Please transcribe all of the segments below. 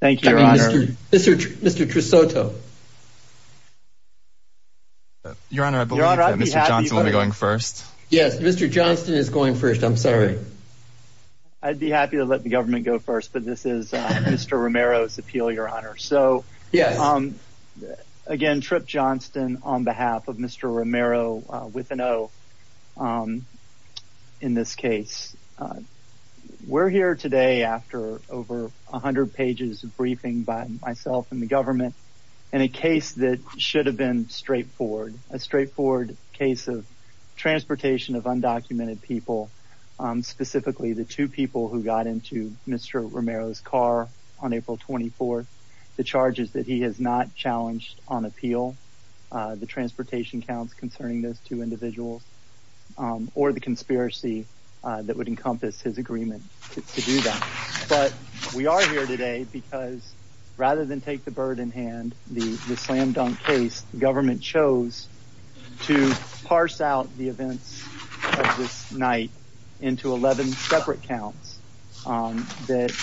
Thank you, your honor. Mr. Trusoto. Your honor, I believe that Mr. Johnston will be going first. Yes, Mr. Johnston is going first. I'm sorry. I'd be happy to let the government go first, but this is Mr. Romero's appeal, your honor. So, yes, um again, Tripp Johnston on behalf of Mr. Romero with an O in this case. We're here today after over a hundred pages of briefing by myself and the government in a case that should have been straightforward, a straightforward case of transportation of undocumented people, specifically the two people who got into Mr. Romero's car on April 24th, the charges that he has not challenged on appeal, the transportation counts concerning those two individuals, or the conspiracy that would encompass his agreement to do that. But we are here today because rather than take the bird in hand, the slam-dunk case, the government chose to parse out the events of this night into 11 separate counts that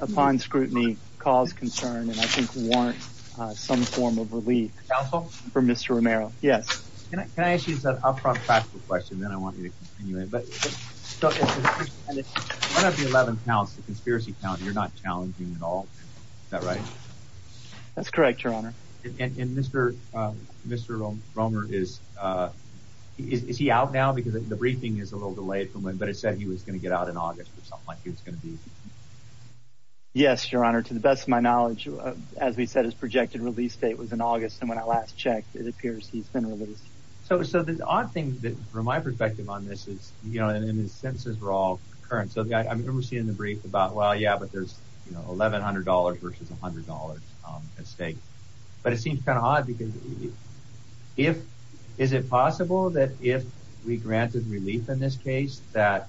upon scrutiny caused concern and I think warrants some form of relief for Mr. Romero. Yes. Can I ask you an upfront practical question, then I want you to continue it, but one of the 11 counts, the conspiracy count, you're not challenging at all, is that right? That's correct, your honor. And Mr. Romero is is he out now? Because the briefing is a little delayed for him, but it said he was going to get out in August or something like that. As we said, his projected release date was in August and when I last checked, it appears he's been released. So the odd thing from my perspective on this is, you know, and his sentences were all current, so I remember seeing the brief about, well, yeah, but there's, you know, $1,100 versus $100 at stake. But it seems kind of odd because if, is it possible that if we granted relief in this case that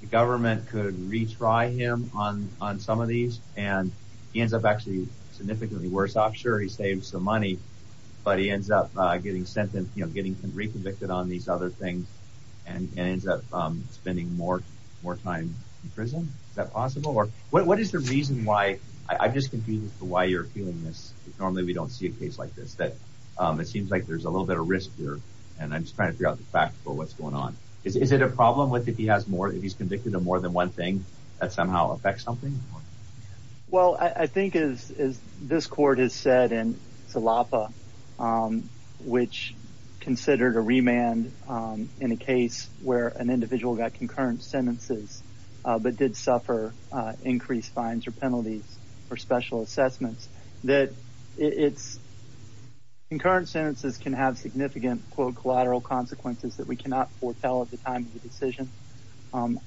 the government could retry him on some of these and he ends up actually significantly worse off? Sure, he saved some money, but he ends up getting sentenced, you know, getting re-convicted on these other things and ends up spending more time in prison? Is that possible? Or what is the reason why, I'm just confused as to why you're feeling this, normally we don't see a case like this, that it seems like there's a little bit of risk here and I'm just trying to figure out the facts, but what's going on? Is it a problem with if he has more, if he's convicted of more than one thing, that somehow affects something? Well, I think as this court has said in Salapa, which considered a remand in a case where an individual got concurrent sentences, but did suffer increased fines or penalties for special assessments, that it's, concurrent sentences can have significant, quote, collateral consequences that we cannot foretell at the time of the decision.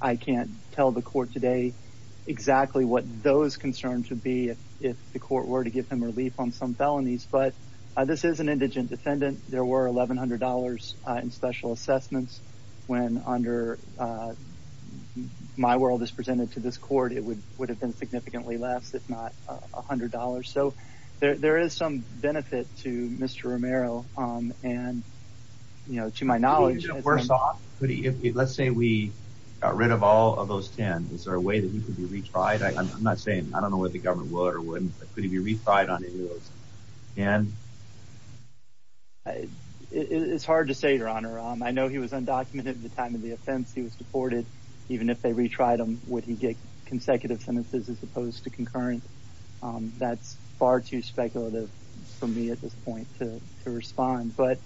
I can't tell the court today exactly what those concerns would be if the court were to give him relief on some felonies, but this is an indigent defendant. There were $1,100 in special assessments when under My World is presented to this court, it would have been significantly less, if not $100. So there is some benefit to Mr. Romero and, you know, to my knowledge... Let's say we got rid of all of those 10. Is there a way that he could be retried? I'm not saying, I don't know what the government would or wouldn't, but could he be retried on any of those? It's hard to say, Your Honor. I know he was undocumented at the time of the offense, he was deported, even if they retried him, would he get consecutive sentences as opposed to concurrent? That's far too speculative for me at this point to respond. But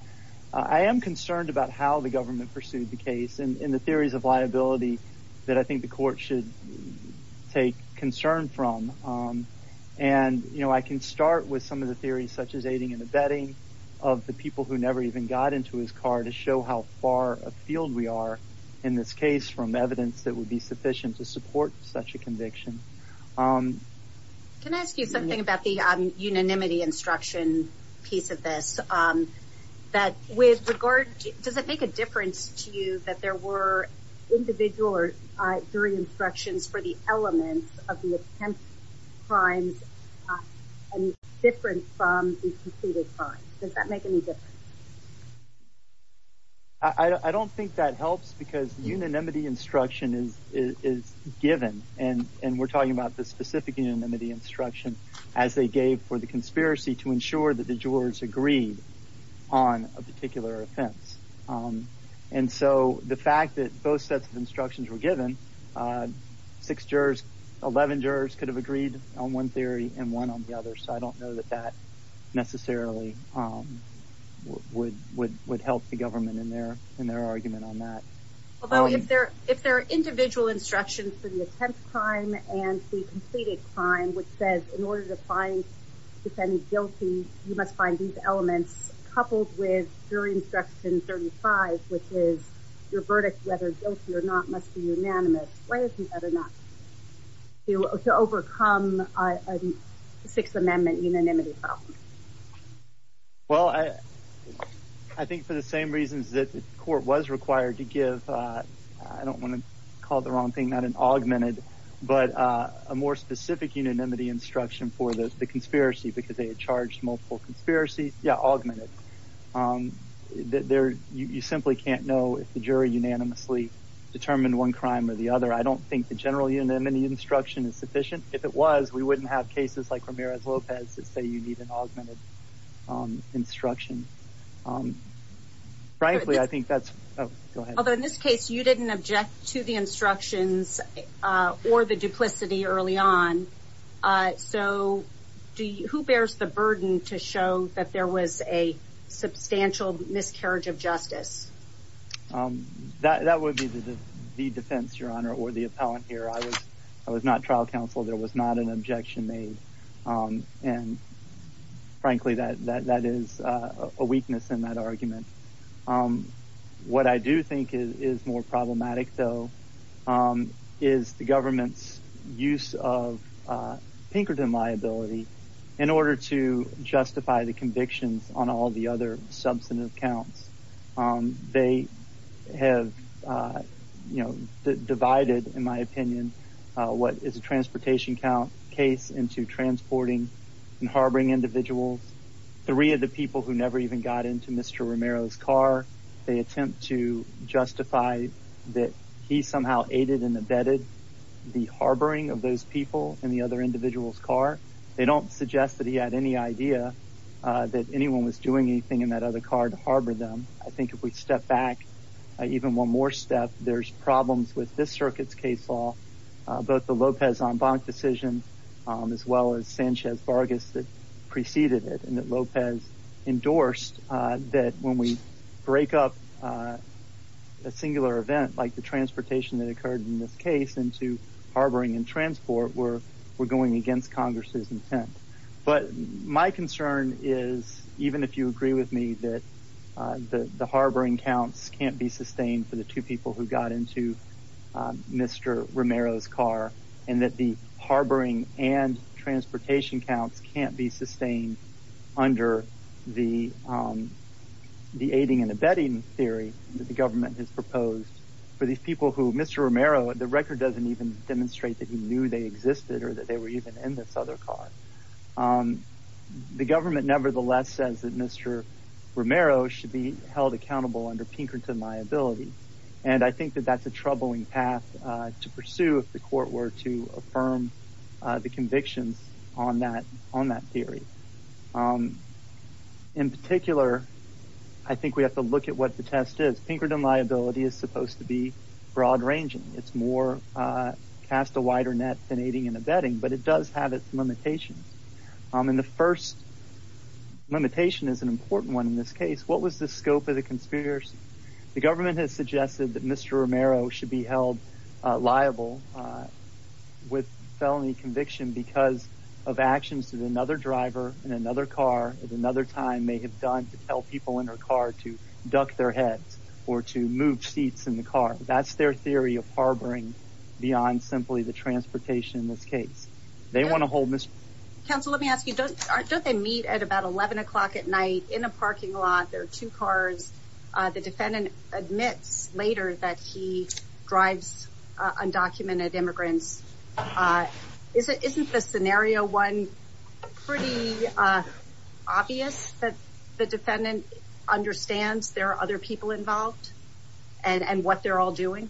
I am concerned about how the government pursued the case and in the theories of liability that I think the court should take concern from. And, you know, I can start with some of the theories such as aiding and abetting of the people who never even got into his car to show how far afield we are in this case from evidence that would be sufficient to support such a conviction. Can I ask you something about the unanimity instruction piece of this? That with regard, does it make a difference to you that there were individual jury instructions for the elements of the attempted crimes different from the completed crimes? Does that make any difference? I don't think that helps because the unanimity instruction is given and we're talking about the specific unanimity instruction as they gave for the conspiracy to ensure that the jurors agreed on a particular offense. And so the fact that both sets of instructions were given, six jurors, eleven jurors could have agreed on one theory and one on the other, so I don't know that that necessarily would help the government in their argument on that. Although if there if there are individual instructions for the attempt crime and the completed crime, which says in order to find if any guilty, you must find these elements coupled with jury instruction 35, which is your verdict, whether guilty or not, must be unanimous. Why is it better not to overcome a Sixth Amendment unanimity problem? Well, I don't want to call it the wrong thing, not an augmented, but a more specific unanimity instruction for the conspiracy because they had charged multiple conspiracies. Yeah, augmented. You simply can't know if the jury unanimously determined one crime or the other. I don't think the general unanimity instruction is sufficient. If it was, we wouldn't have cases like Ramirez-Lopez that say you need an augmented instruction. Although in this case, you didn't object to the instructions or the duplicity early on. So who bears the burden to show that there was a substantial miscarriage of justice? That would be the defense, Your Honor, or the appellant here. I was not trial counsel. There was not an objection made. And frankly, that is a weakness in that argument. What I do think is more problematic, though, is the government's use of Pinkerton liability in order to justify the convictions on all the other substantive counts. They have divided, in my opinion, what is a transportation count case into transporting and harboring individuals. Three of the people who never even got into Mr. Ramirez's car, they attempt to justify that he somehow aided and abetted the harboring of those people in the other individual's car. They don't suggest that he had any idea that anyone was doing anything in that other car to harbor them. I think if we step back even one more step, there's problems with this circuit's case law, both the Lopez-Zambonk decision as well as Sanchez-Vargas that preceded it, and that Lopez endorsed that when we break up a singular event like the transportation that occurred in this case into harboring and transport, we're going against Congress's intent. But my concern is, even if you agree with me, that the harboring counts can't be sustained for the two people who got into Mr. Ramirez's car, and that the harboring and transportation counts can't be sustained under the the aiding and abetting theory that the government has proposed for these people who Mr. Ramirez, the record doesn't even demonstrate that he knew they existed or that they were even in this other car. The government nevertheless says that Mr. Romero should be held accountable under Pinkerton liability. And I think that that's a troubling path to pursue if the court were to affirm the convictions on that theory. In particular, I think we have to look at what the test is. Pinkerton liability is supposed to be broad-ranging. It's more cast a wider net than aiding and abetting, but it does have its limitations. And the first limitation is an important one in this case. What was the scope of the conspiracy? The government has suggested that Mr. Romero should be held liable with felony conviction because of actions that another driver in another car at another time may have done to tell people in her car to duck their heads or to move seats in the car. That's their theory of harboring beyond simply the transportation in this case. They want to hold Mr. Counsel, let me ask you, don't they meet at about 11 o'clock at night in a parking lot? There are two cars. The defendant admits later that he drives undocumented immigrants. Is it isn't the scenario one pretty obvious that the defendant understands there are other people involved and what they're all doing?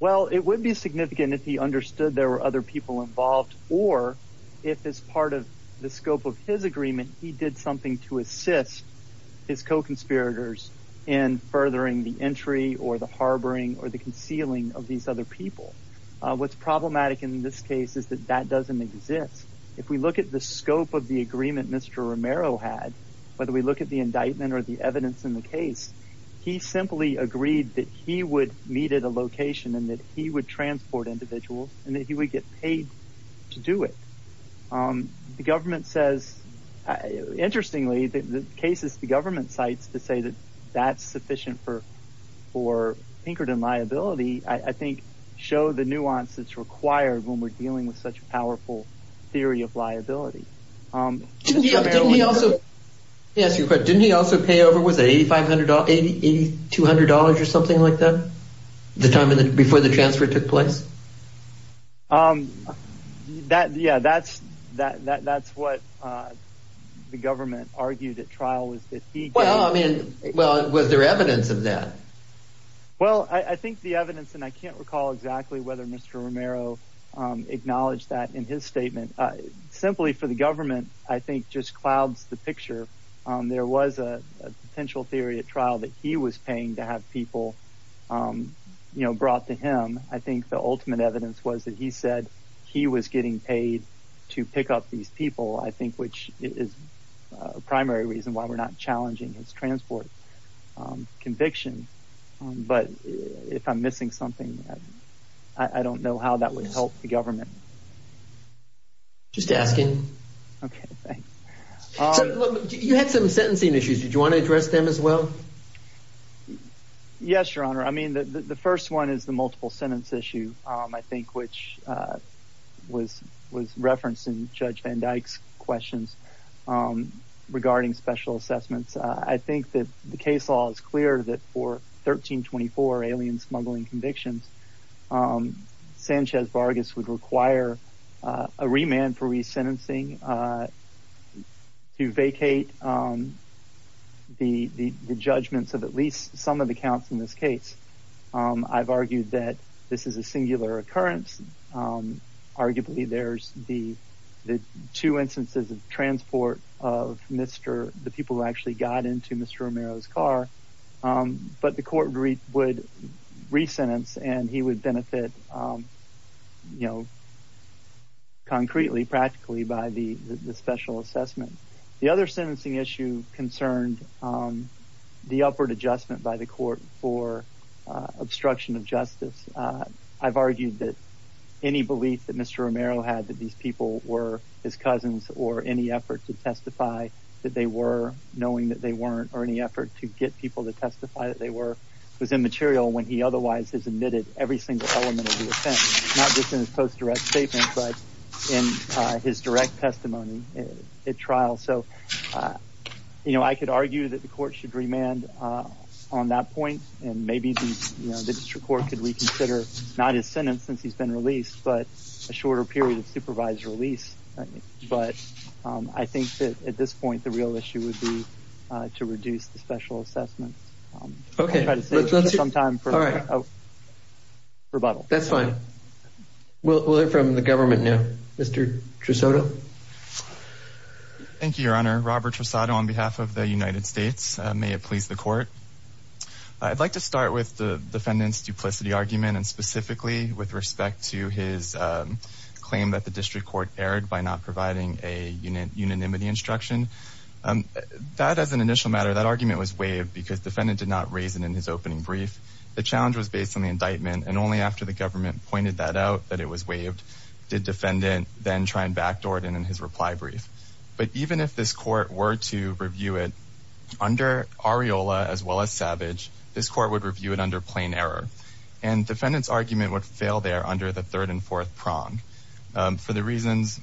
Well, it would be significant if he understood there were other people involved. Or if as part of the scope of his agreement, he did something to assist his co-conspirators in furthering the entry or the harboring or the concealing of these other people. What's problematic in this case is that that doesn't exist. If we look at the scope of the agreement, Mr. Romero had, whether we look at the indictment or the evidence in the case, he simply agreed that he would meet at a location and that he would transport individuals and that he would get paid to do it. The government says, interestingly, the cases the government cites to say that that's sufficient for for Pinkerton liability, I think, show the nuance that's required when we're dealing with such a powerful theory of liability. Yes, you could. Didn't he also pay over with a five hundred eighty two hundred dollars or something like that the time before the transfer took place? That yeah, that's that that's what the government argued at trial was that he. Well, I mean, well, was there evidence of that? Well, I think the evidence and I can't recall exactly whether Mr. Romero acknowledged that in his statement. Simply for the government, I think just clouds the picture. There was a potential theory at trial that he was paying to have people, you know, brought to him. I think the ultimate evidence was that he said he was getting paid to pick up these people, I think, which is a primary reason why we're not challenging his transport conviction. But if I'm missing something, I don't know how that would help the government. Just asking. OK, thanks. You had some sentencing issues. Did you want to address them as well? Yes, your honor. I mean, the first one is the multiple sentence issue, I think, which was was referencing Judge Van Dyke's questions regarding special assessments. I think that the case law is clear that for 1324 alien smuggling convictions, Sanchez Vargas would require a remand for resentencing to vacate the judgments of at least some of the counts in this case. I've argued that this is a singular occurrence. Arguably, there's the the two instances of transport of Mr. the people who actually got into Mr. Romero's car, but the court would resentence and he would benefit, you know. Concretely, practically by the special assessment. The other sentencing issue concerned on the upward adjustment by the court for obstruction of justice. I've argued that any belief that Mr. Romero had that these people were his cousins or any effort to testify that they were knowing that they weren't or any effort to get people to testify that they were was immaterial when he otherwise has admitted every single element of the offense, not just in his post direct statement, but in his direct testimony at trial. So, you know, I could argue that the court should remand on that point. And maybe, you know, the district court could reconsider not his sentence since he's been released, but a shorter period of supervised release. But I think that at this point, the real issue would be to reduce the special assessment. OK, let's try to save some time for a rebuttal. That's fine. We'll hear from the government now. Mr. Trusoto. Thank you, Your Honor. Robert Trusoto on behalf of the United States. May it please the court. I'd like to start with the defendant's duplicity argument and specifically with respect to his claim that the district court erred by not providing a unanimity instruction. That as an initial matter, that argument was waived because the defendant did not raise it in his opening brief. The challenge was based on the indictment. And only after the government pointed that out that it was waived did defendant then try and backdoor it in his reply brief. But even if this court were to review it under Areola, as well as Savage, this court would review it under plain error. And defendant's argument would fail there under the third and fourth prong for the reasons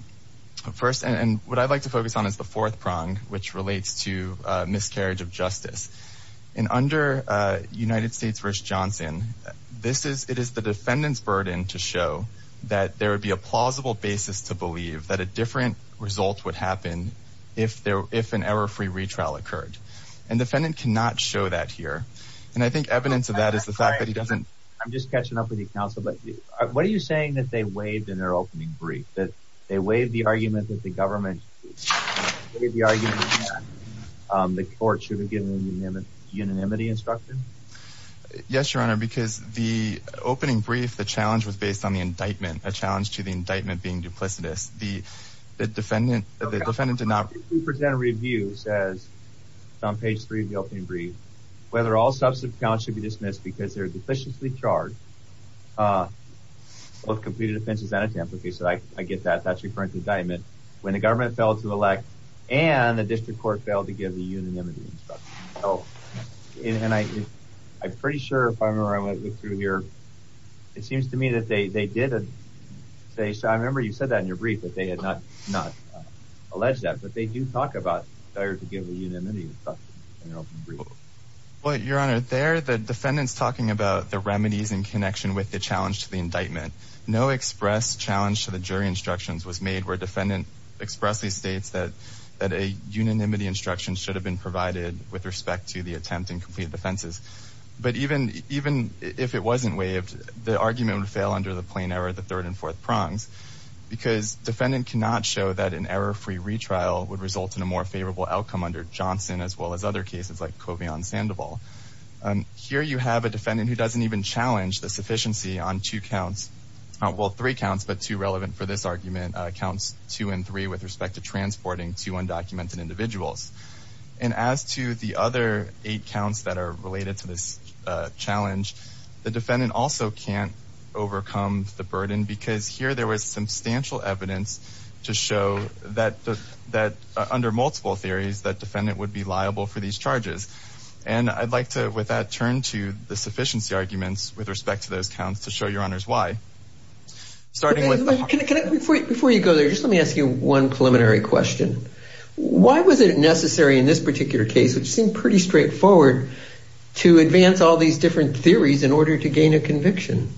first. And what I'd like to focus on is the fourth prong, which relates to miscarriage of justice. And under United States v. Johnson, this is it is the defendant's burden to show that there would be a plausible basis to believe that a different result would happen if an error-free retrial occurred. And defendant cannot show that here. And I think evidence of that is the fact that he doesn't. I'm just catching up with you, counsel. But what are you saying that they waived in their opening brief? That they waived the argument that the government waived the argument that the court should have given unanimity instruction? Yes, your honor, because the opening brief, the challenge was based on the indictment, a challenge to the indictment being duplicitous. The defendant, the defendant did not. 52% of review says, it's on page three of the opening brief, whether all substantive counts should be dismissed because they're deficiently charged, both completed offenses and attempt. Okay, so I get that. That's referring to indictment. When the government failed to elect and the district court failed to give the unanimity instruction. So, and I'm pretty sure if I remember, I went through here, it seems to me that they did say, I remember you said that in your brief, that they had not alleged that, but they do talk about failure to give a unanimity. Well, your honor, there, the defendant's talking about the remedies in connection with the challenge to the indictment. No express challenge to the jury instructions was made where defendant expressly states that a unanimity instruction should have been provided with respect to the attempt and complete defenses. But even if it wasn't waived, the argument would fail under the plain error, the third and fourth prongs, because defendant cannot show that an error-free retrial would result in a more favorable outcome under Johnson, as well as other cases like Kovion Sandoval. Here you have a defendant who doesn't even challenge the sufficiency on two counts, well, three counts, but two relevant for this argument, counts two and three with respect to transporting two undocumented individuals. And as to the other eight counts that are related to this challenge, the defendant also can't overcome the burden because here there was substantial evidence to show that under multiple theories, that defendant would be liable for these charges. And I'd like to, with that, turn to the sufficiency arguments with respect to those counts to show your honors why. Starting with the- Before you go there, just let me ask you one preliminary question. Why was it necessary in this particular case, which seemed pretty straightforward, to advance all these different theories in order to gain a conviction?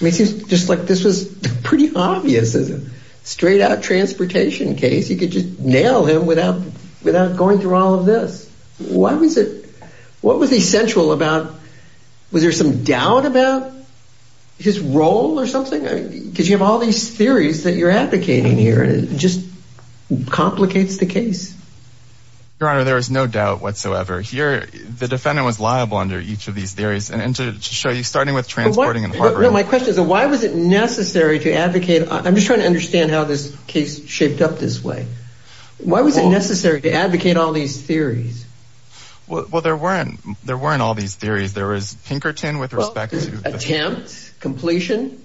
I mean, it seems just like this was pretty obvious, as a straight out transportation case, you could just nail him without going through all of this. Why was it- What was essential about- Was there some doubt about his role or something? Because you have all these theories that you're advocating here, just complicates the case. Your honor, there is no doubt whatsoever. Here, the defendant was liable under each of these theories. And to show you, starting with transporting and harboring- My question is, why was it necessary to advocate? I'm just trying to understand how this case shaped up this way. Why was it necessary to advocate all these theories? Well, there weren't all these theories. There was Pinkerton with respect to- Attempt, completion,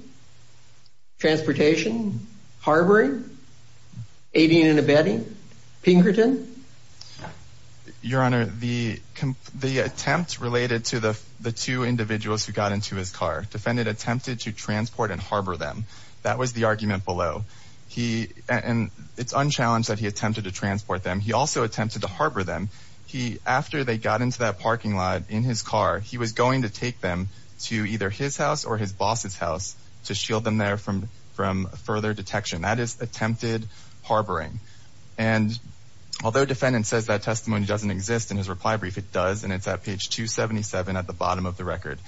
transportation, harboring. Aideen and Abedi, Pinkerton. Your honor, the attempt related to the two individuals who got into his car. Defendant attempted to transport and harbor them. That was the argument below. And it's unchallenged that he attempted to transport them. He also attempted to harbor them. He, after they got into that parking lot in his car, he was going to take them to either his house or his boss's house to shield them there from further detection. That is attempted harboring. And although defendant says that testimony doesn't exist in his reply brief, it does. And it's at page 277 at the bottom of the record.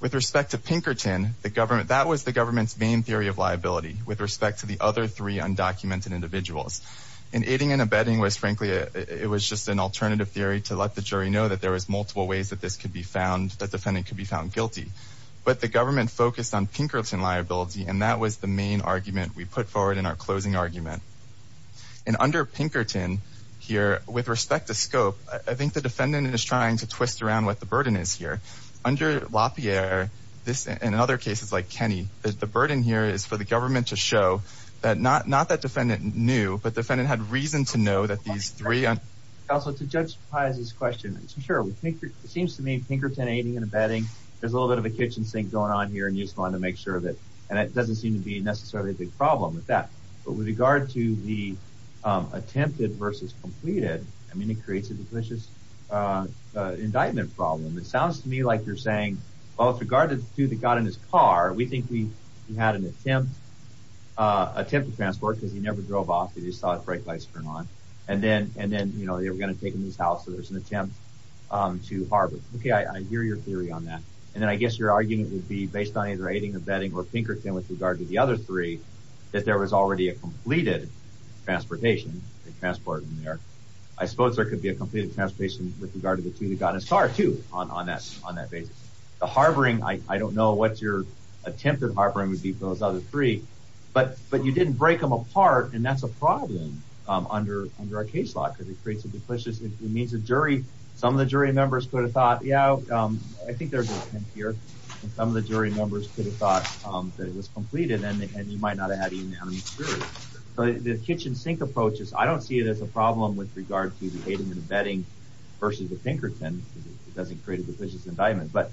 With respect to Pinkerton, the government- That was the government's main theory of liability with respect to the other three undocumented individuals. And Aideen and Abedi was frankly, it was just an alternative theory to let the jury know that there was multiple ways that this could be found, that defendant could be found guilty. But the government focused on Pinkerton liability and that was the main argument we put forward in our closing argument. And under Pinkerton here, with respect to scope, I think the defendant is trying to twist around what the burden is here. Under LaPierre, this, and in other cases like Kenny, the burden here is for the government to show that not that defendant knew, but defendant had reason to know that these three- Also, to judge Paz's question, sure, it seems to me Pinkerton, Aideen, and Abedi, there's a little bit of a kitchen sink going on here and you just wanted to make sure of it. And it doesn't seem to be necessarily a big problem with that. But with regard to the attempted versus completed, I mean, it creates a delicious indictment problem. It sounds to me like you're saying, well, with regard to the two that got in his car, we think we had an attempt to transport because he never drove off. He just saw the brake lights turn on. And then, you know, they were gonna take him to his house. So there's an attempt to harbor. Okay, I hear your theory on that. And then I guess your argument would be based on either Aideen, Abedi, or Pinkerton with regard to the other three, that there was already a completed transportation. They transported him there. I suppose there could be a completed transportation with regard to the two that got in his car too on that basis. The harboring, I don't know what your attempted harboring would be for those other three, but you didn't break them apart. And that's a problem under our case law because it creates a delicious, it means the jury, some of the jury members could have thought, yeah, I think there's an attempt here. And some of the jury members could have thought that it was completed and you might not have had even an experience. So the kitchen sink approach is, I don't see it as a problem with regard to the Aideen and Abedi versus the Pinkerton because it doesn't create a delicious indictment, but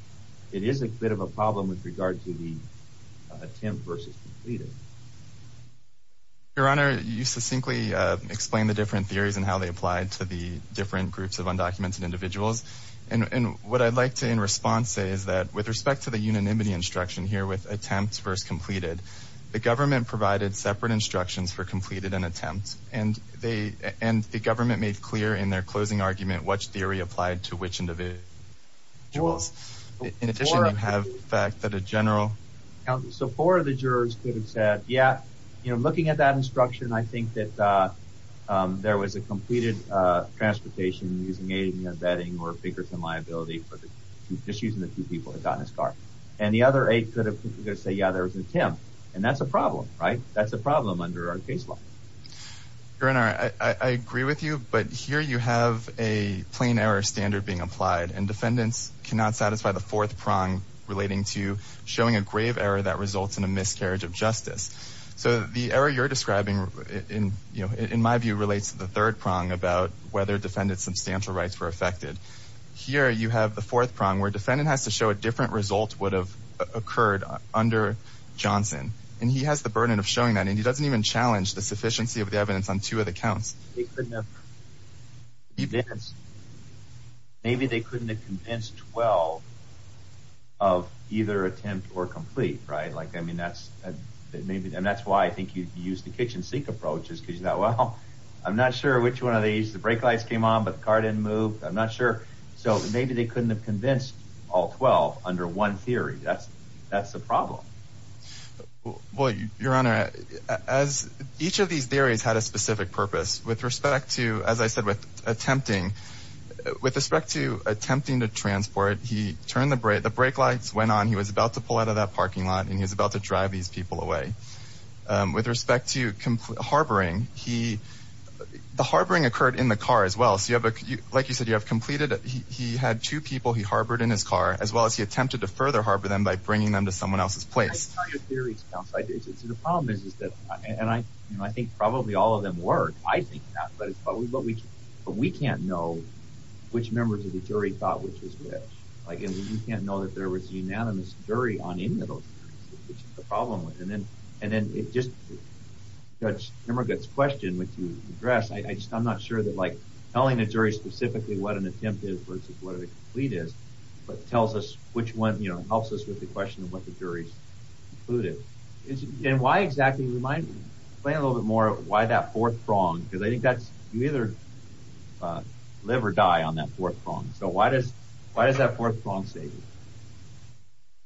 it is a bit of a problem with regard to the attempt versus completed. Your Honor, you succinctly explained the different theories and how they applied to the different groups of undocumented individuals. And what I'd like to, in response, say that with respect to the unanimity instruction here with attempt versus completed, the government provided separate instructions for completed and attempt, and the government made clear in their closing argument which theory applied to which individuals. In addition, you have the fact that a general- So four of the jurors could have said, yeah, looking at that instruction, I think that there was a completed transportation using Aideen and Abedi or Pinkerton liability for the two issues and the two people that got in his car. And the other eight could have said, yeah, there was an attempt. And that's a problem, right? That's a problem under our case law. Your Honor, I agree with you, but here you have a plain error standard being applied and defendants cannot satisfy the fourth prong relating to showing a grave error that results in a miscarriage of justice. So the error you're describing in my view relates to the third prong about whether defendants' substantial rights were affected. Here you have the fourth prong where defendant has to show a different result would have occurred under Johnson. And he has the burden of showing that and he doesn't even challenge the sufficiency of the evidence on two of the counts. Maybe they couldn't have convinced 12 of either attempt or complete, right? Like, I mean, that's maybe, and that's why I think you use the kitchen sink approaches because you thought, well, I'm not sure which one of these, the brake lights came on, but the car didn't move. I'm not sure. So maybe they couldn't have convinced all 12 under one theory. That's the problem. Well, Your Honor, as each of these theories had a specific purpose with respect to, as I said, with attempting, with respect to attempting to transport, he turned the brake, the brake lights went on. He was about to pull out of that parking lot and he was about to drive these people away. With respect to harboring, the harboring occurred in the car as well. Like you said, you have completed, he had two people he harbored in his car, as well as he attempted to further harbor them by bringing them to someone else's place. The problem is, is that, and I think probably all of them were, I think not, but it's probably what we, but we can't know which members of the jury thought which was which. Like, you can't know that there was a unanimous jury on any of those, which is the problem with. And then, and then it just, Judge Emmerich's question, which you addressed, I'm not sure that like telling a jury specifically what an attempt is versus what a complete is, but tells us which one, you know, helps us with the question of what the jury concluded. And why exactly, you might explain a little bit more why that fourth prong, because I think that's, you either live or die on that fourth prong. So why does, why does that fourth prong save you?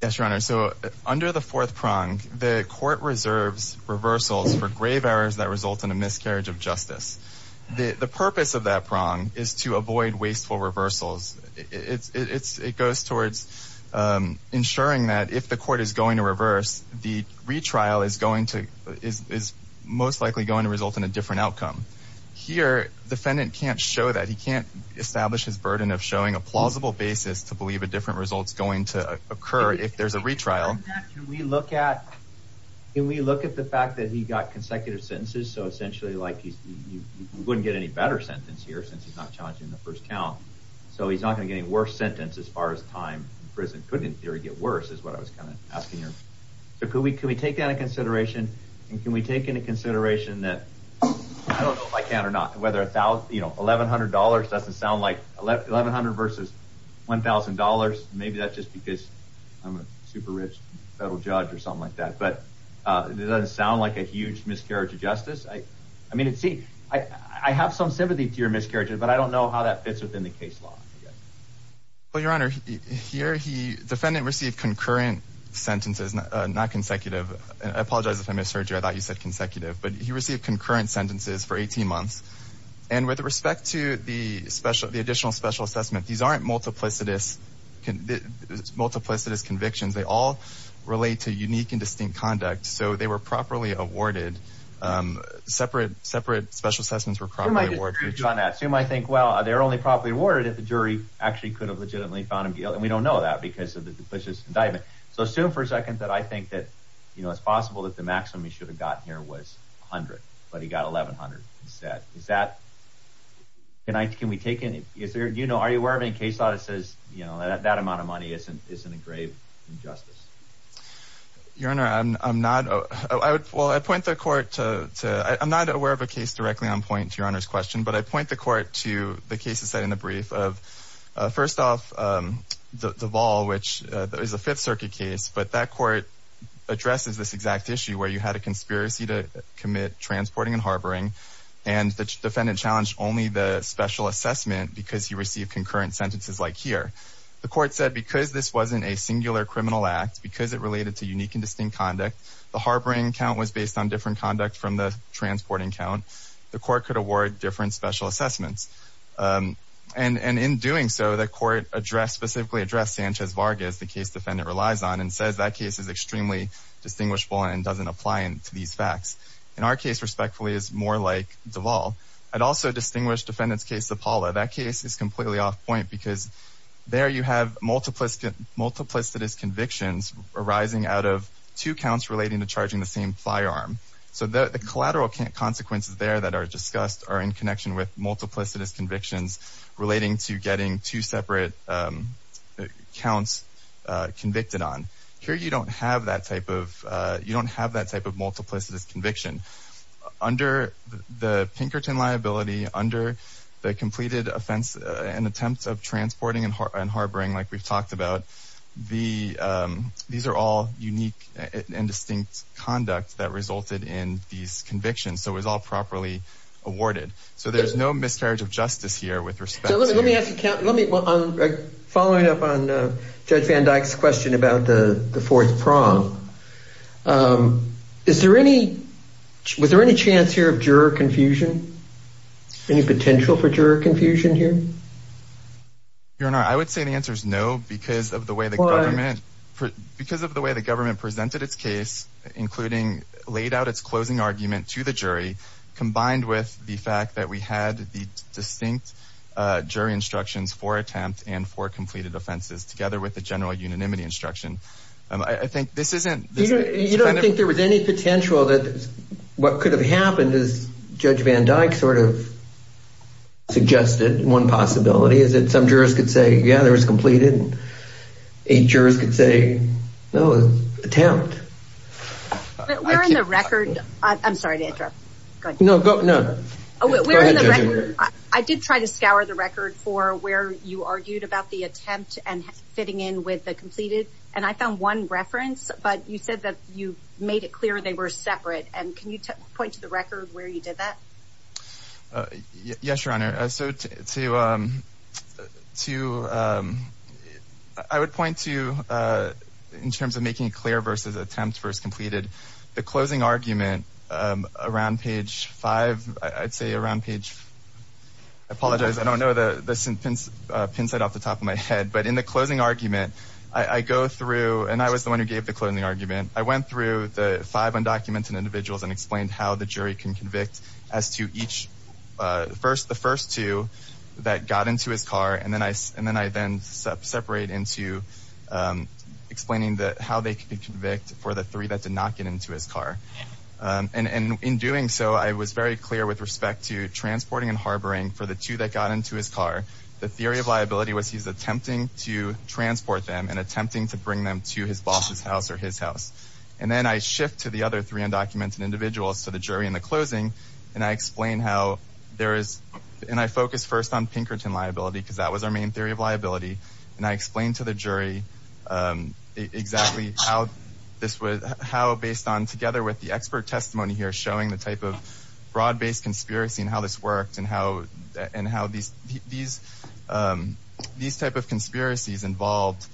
Yes, Your Honor. So under the fourth prong, the court reserves reversals for grave errors that result in a miscarriage of justice. The purpose of that prong is to avoid wasteful reversals. It goes towards ensuring that if the court is going to reverse, the retrial is going to, is most likely going to result in a different outcome. Here, defendant can't show that. He can't establish his burden of showing a plausible basis to believe a different result's going to occur if there's a retrial. Can we look at, can we look at the fact that he got consecutive sentences? So essentially like he's, you wouldn't get any better sentence here since he's not challenging the first count. So he's not going to get any worse sentence as far as time in prison could in theory get worse is what I was kind of asking here. So could we, can we take that into consideration? And can we take into consideration that, I don't know if I can or not, whether a thousand, you know, $1,100 doesn't sound like $1,100 versus $1,000. Maybe that's just because I'm a super rich federal judge or something like that. But it doesn't sound like a huge miscarriage of justice. I mean, see, I have some sympathy to your miscarriage, but I don't know how that fits within the case law. Well, your Honor, here he, defendant received concurrent sentences, not consecutive. And I apologize if I misheard you. I thought you said consecutive, but he received concurrent sentences for 18 months. And with respect to the special, the additional special assessment, these aren't multiplicitous convictions. They all relate to unique and distinct conduct. So they were properly awarded. Separate, separate special assessments were properly awarded. So you might think, well, they're only properly awarded if the jury actually could have legitimately found him guilty. And we don't know that because of the duplicious indictment. So assume for a second that I think that, you know, it's possible that the maximum he should have gotten here was 100, but he got 1,100 instead. Is that, can I, can we take any, is there, you know, are you aware of any case law that says, you know, that amount of money isn't a grave, injustice? Your Honor, I'm not, I would, well, I point the court to, I'm not aware of a case directly on point to Your Honor's question, but I point the court to the cases set in the brief of, first off, the Deval, which is a Fifth Circuit case, but that court addresses this exact issue where you had a conspiracy to commit transporting and harboring, and the defendant challenged only the special assessment because he received concurrent sentences like here. The court said because this wasn't a singular criminal act, because it related to unique and distinct conduct, the harboring count was based on different conduct from the transporting count. The court could award different special assessments. And in doing so, the court addressed, specifically addressed Sanchez-Vargas, the case defendant relies on, and says that case is extremely distinguishable and doesn't apply to these facts. And our case, respectfully, is more like Deval. I'd also distinguish defendant's case to Paula. That case is completely off point because there you have multiplicitous convictions arising out of two counts relating to charging the same firearm. So the collateral consequences there that are discussed are in connection with multiplicitous convictions relating to getting two separate counts convicted on. Here, you don't have that type of, you don't have that type of multiplicitous conviction. Under the Pinkerton liability, under the completed offense, an attempt of transporting and harboring, like we've talked about, these are all unique and distinct conduct that resulted in these convictions. So it was all properly awarded. So there's no miscarriage of justice here with respect to- So let me ask you, following up on Judge Van Dyck's question about the fourth prong, was there any chance here of juror confusion? Any potential for juror confusion here? Your Honor, I would say the answer is no because of the way the government- Because of the way the government presented its case, including laid out its closing argument to the jury, combined with the fact that we had the distinct jury instructions for attempt and for completed offenses together with the general unanimity instruction. I think this isn't- You don't think there was any potential that what could have happened is Judge Van Dyck sort of suggested one possibility is that some jurors could say, yeah, there was completed, and eight jurors could say, no, it was attempt. But where in the record- I'm sorry to interrupt. Go ahead. No, go, no. I did try to scour the record for where you argued about the attempt and fitting in with the completed. And I found one reference, but you said that you made it clear they were separate. And can you point to the record where you did that? Yes, Your Honor. So I would point to, in terms of making it clear versus attempt versus completed, the closing argument around page five, I'd say around page- I apologize. I don't know the pin set off the top of my head. But in the closing argument, I go through, and I was the one who gave the closing argument. I went through the five undocumented individuals and explained how the jury can convict as to the first two that got into his car. And then I then separate into explaining how they can convict for the three that did not get into his car. And in doing so, I was very clear with respect to transporting and harboring for the two that got into his car. The theory of liability was, he's attempting to transport them and attempting to bring them to his boss's house or his house. And then I shift to the other three undocumented individuals, to the jury in the closing. And I explain how there is, and I focus first on Pinkerton liability, because that was our main theory of liability. And I explained to the jury exactly how this was, how based on together with the expert testimony here, showing the type of broad-based conspiracy and how this worked and how these type of conspiracies involved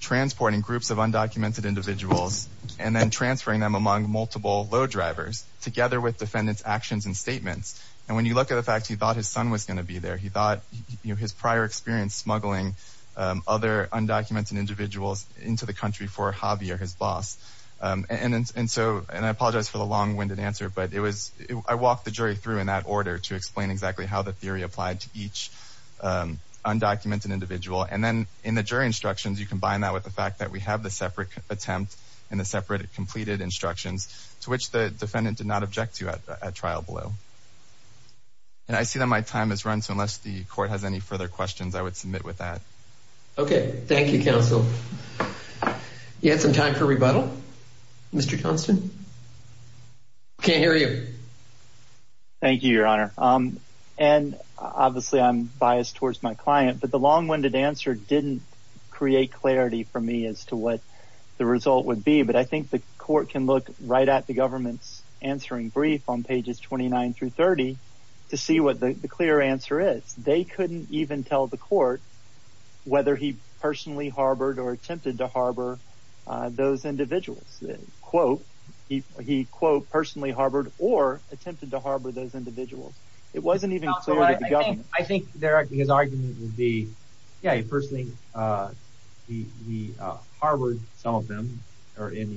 transporting groups of undocumented individuals and then transferring them among multiple load drivers together with defendant's actions and statements. And when you look at the fact, he thought his son was going to be there. He thought his prior experience smuggling other undocumented individuals into the country for a hobby or his boss. And so, and I apologize for the long winded answer, but it was, I walked the jury through in that order to explain exactly how the theory applied to each undocumented individual. And then in the jury instructions, you combine that with the fact that we have the separate attempt and the separate completed instructions to which the defendant did not object to at trial below. And I see that my time has run. So unless the court has any further questions, I would submit with that. Okay. Thank you, counsel. You had some time for rebuttal, Mr. Johnston. Can't hear you. Thank you, your honor. And obviously I'm biased towards my client, but the long winded answer didn't create clarity for me as to what the result would be. But I think the court can look right at the government's answering brief on pages 29 through 30 to see what the clear answer is. They couldn't even tell the court whether he personally harbored or attempted to harbor those individuals. Quote, he quote, personally harbored or attempted to harbor those individuals. It wasn't even clear to the government. I think his argument would be, yeah, he personally harbored some of them or he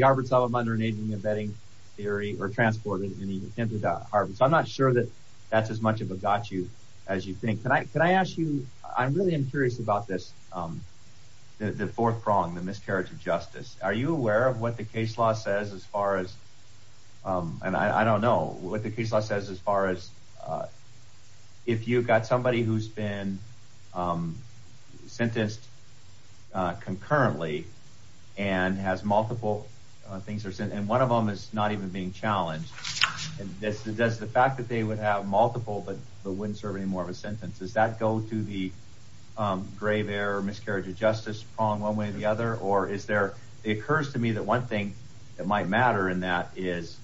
harbored some of them under an aging embedding theory or transported and he attempted to harbor. So I'm not sure that that's as much of a got you as you think. Can I ask you, I really am curious about this. The fourth prong, the miscarriage of justice. Are you aware of what the case law says as far as, and I don't know what the case law says as far as if you've got somebody who's been sentenced concurrently and has multiple things, and one of them is not even being challenged. Does the fact that they would have multiple but wouldn't serve any more of a sentence, does that go to the grave error, miscarriage of justice prong one way or the other? Or is there, it occurs to me that one thing that might matter in that is,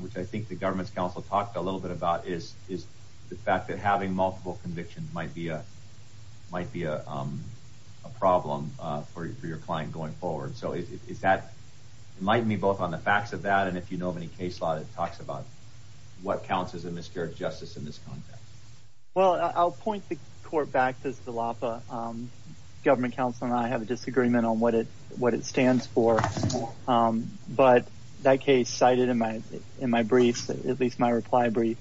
which I think the government's counsel talked a little bit about is the fact that having multiple convictions might be a problem for your client going forward. So is that, enlighten me both on the facts of that and if you know of any case law that talks about what counts as a miscarriage of justice in this context. Well, I'll point the court back to Steloppa. Government counsel and I have a disagreement on what it stands for. But that case cited in my brief, at least my reply brief,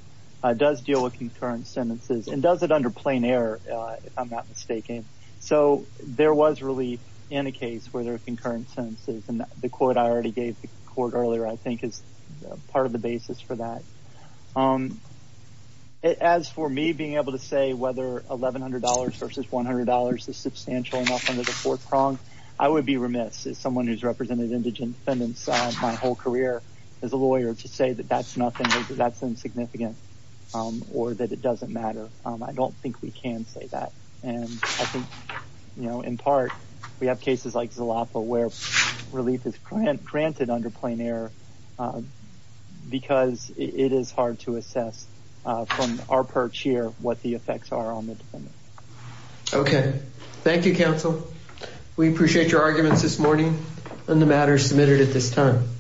does deal with concurrent sentences and does it under plain error, if I'm not mistaken. So there was relief in a case where there were concurrent sentences and the quote I already gave the court earlier, I think is part of the basis for that. As for me being able to say whether $1,100 versus $100 is substantial enough under the fourth prong, I would be remiss as someone who's represented indigent defendants my whole career as a lawyer to say that that's nothing, that's insignificant or that it doesn't matter. I don't think we can say that. And I think, you know, in part, we have cases like Zalapa where relief is granted under plain error because it is hard to assess from our perch here what the effects are on the defendant. Okay. Thank you, counsel. We appreciate your arguments this morning and the matters submitted at this time.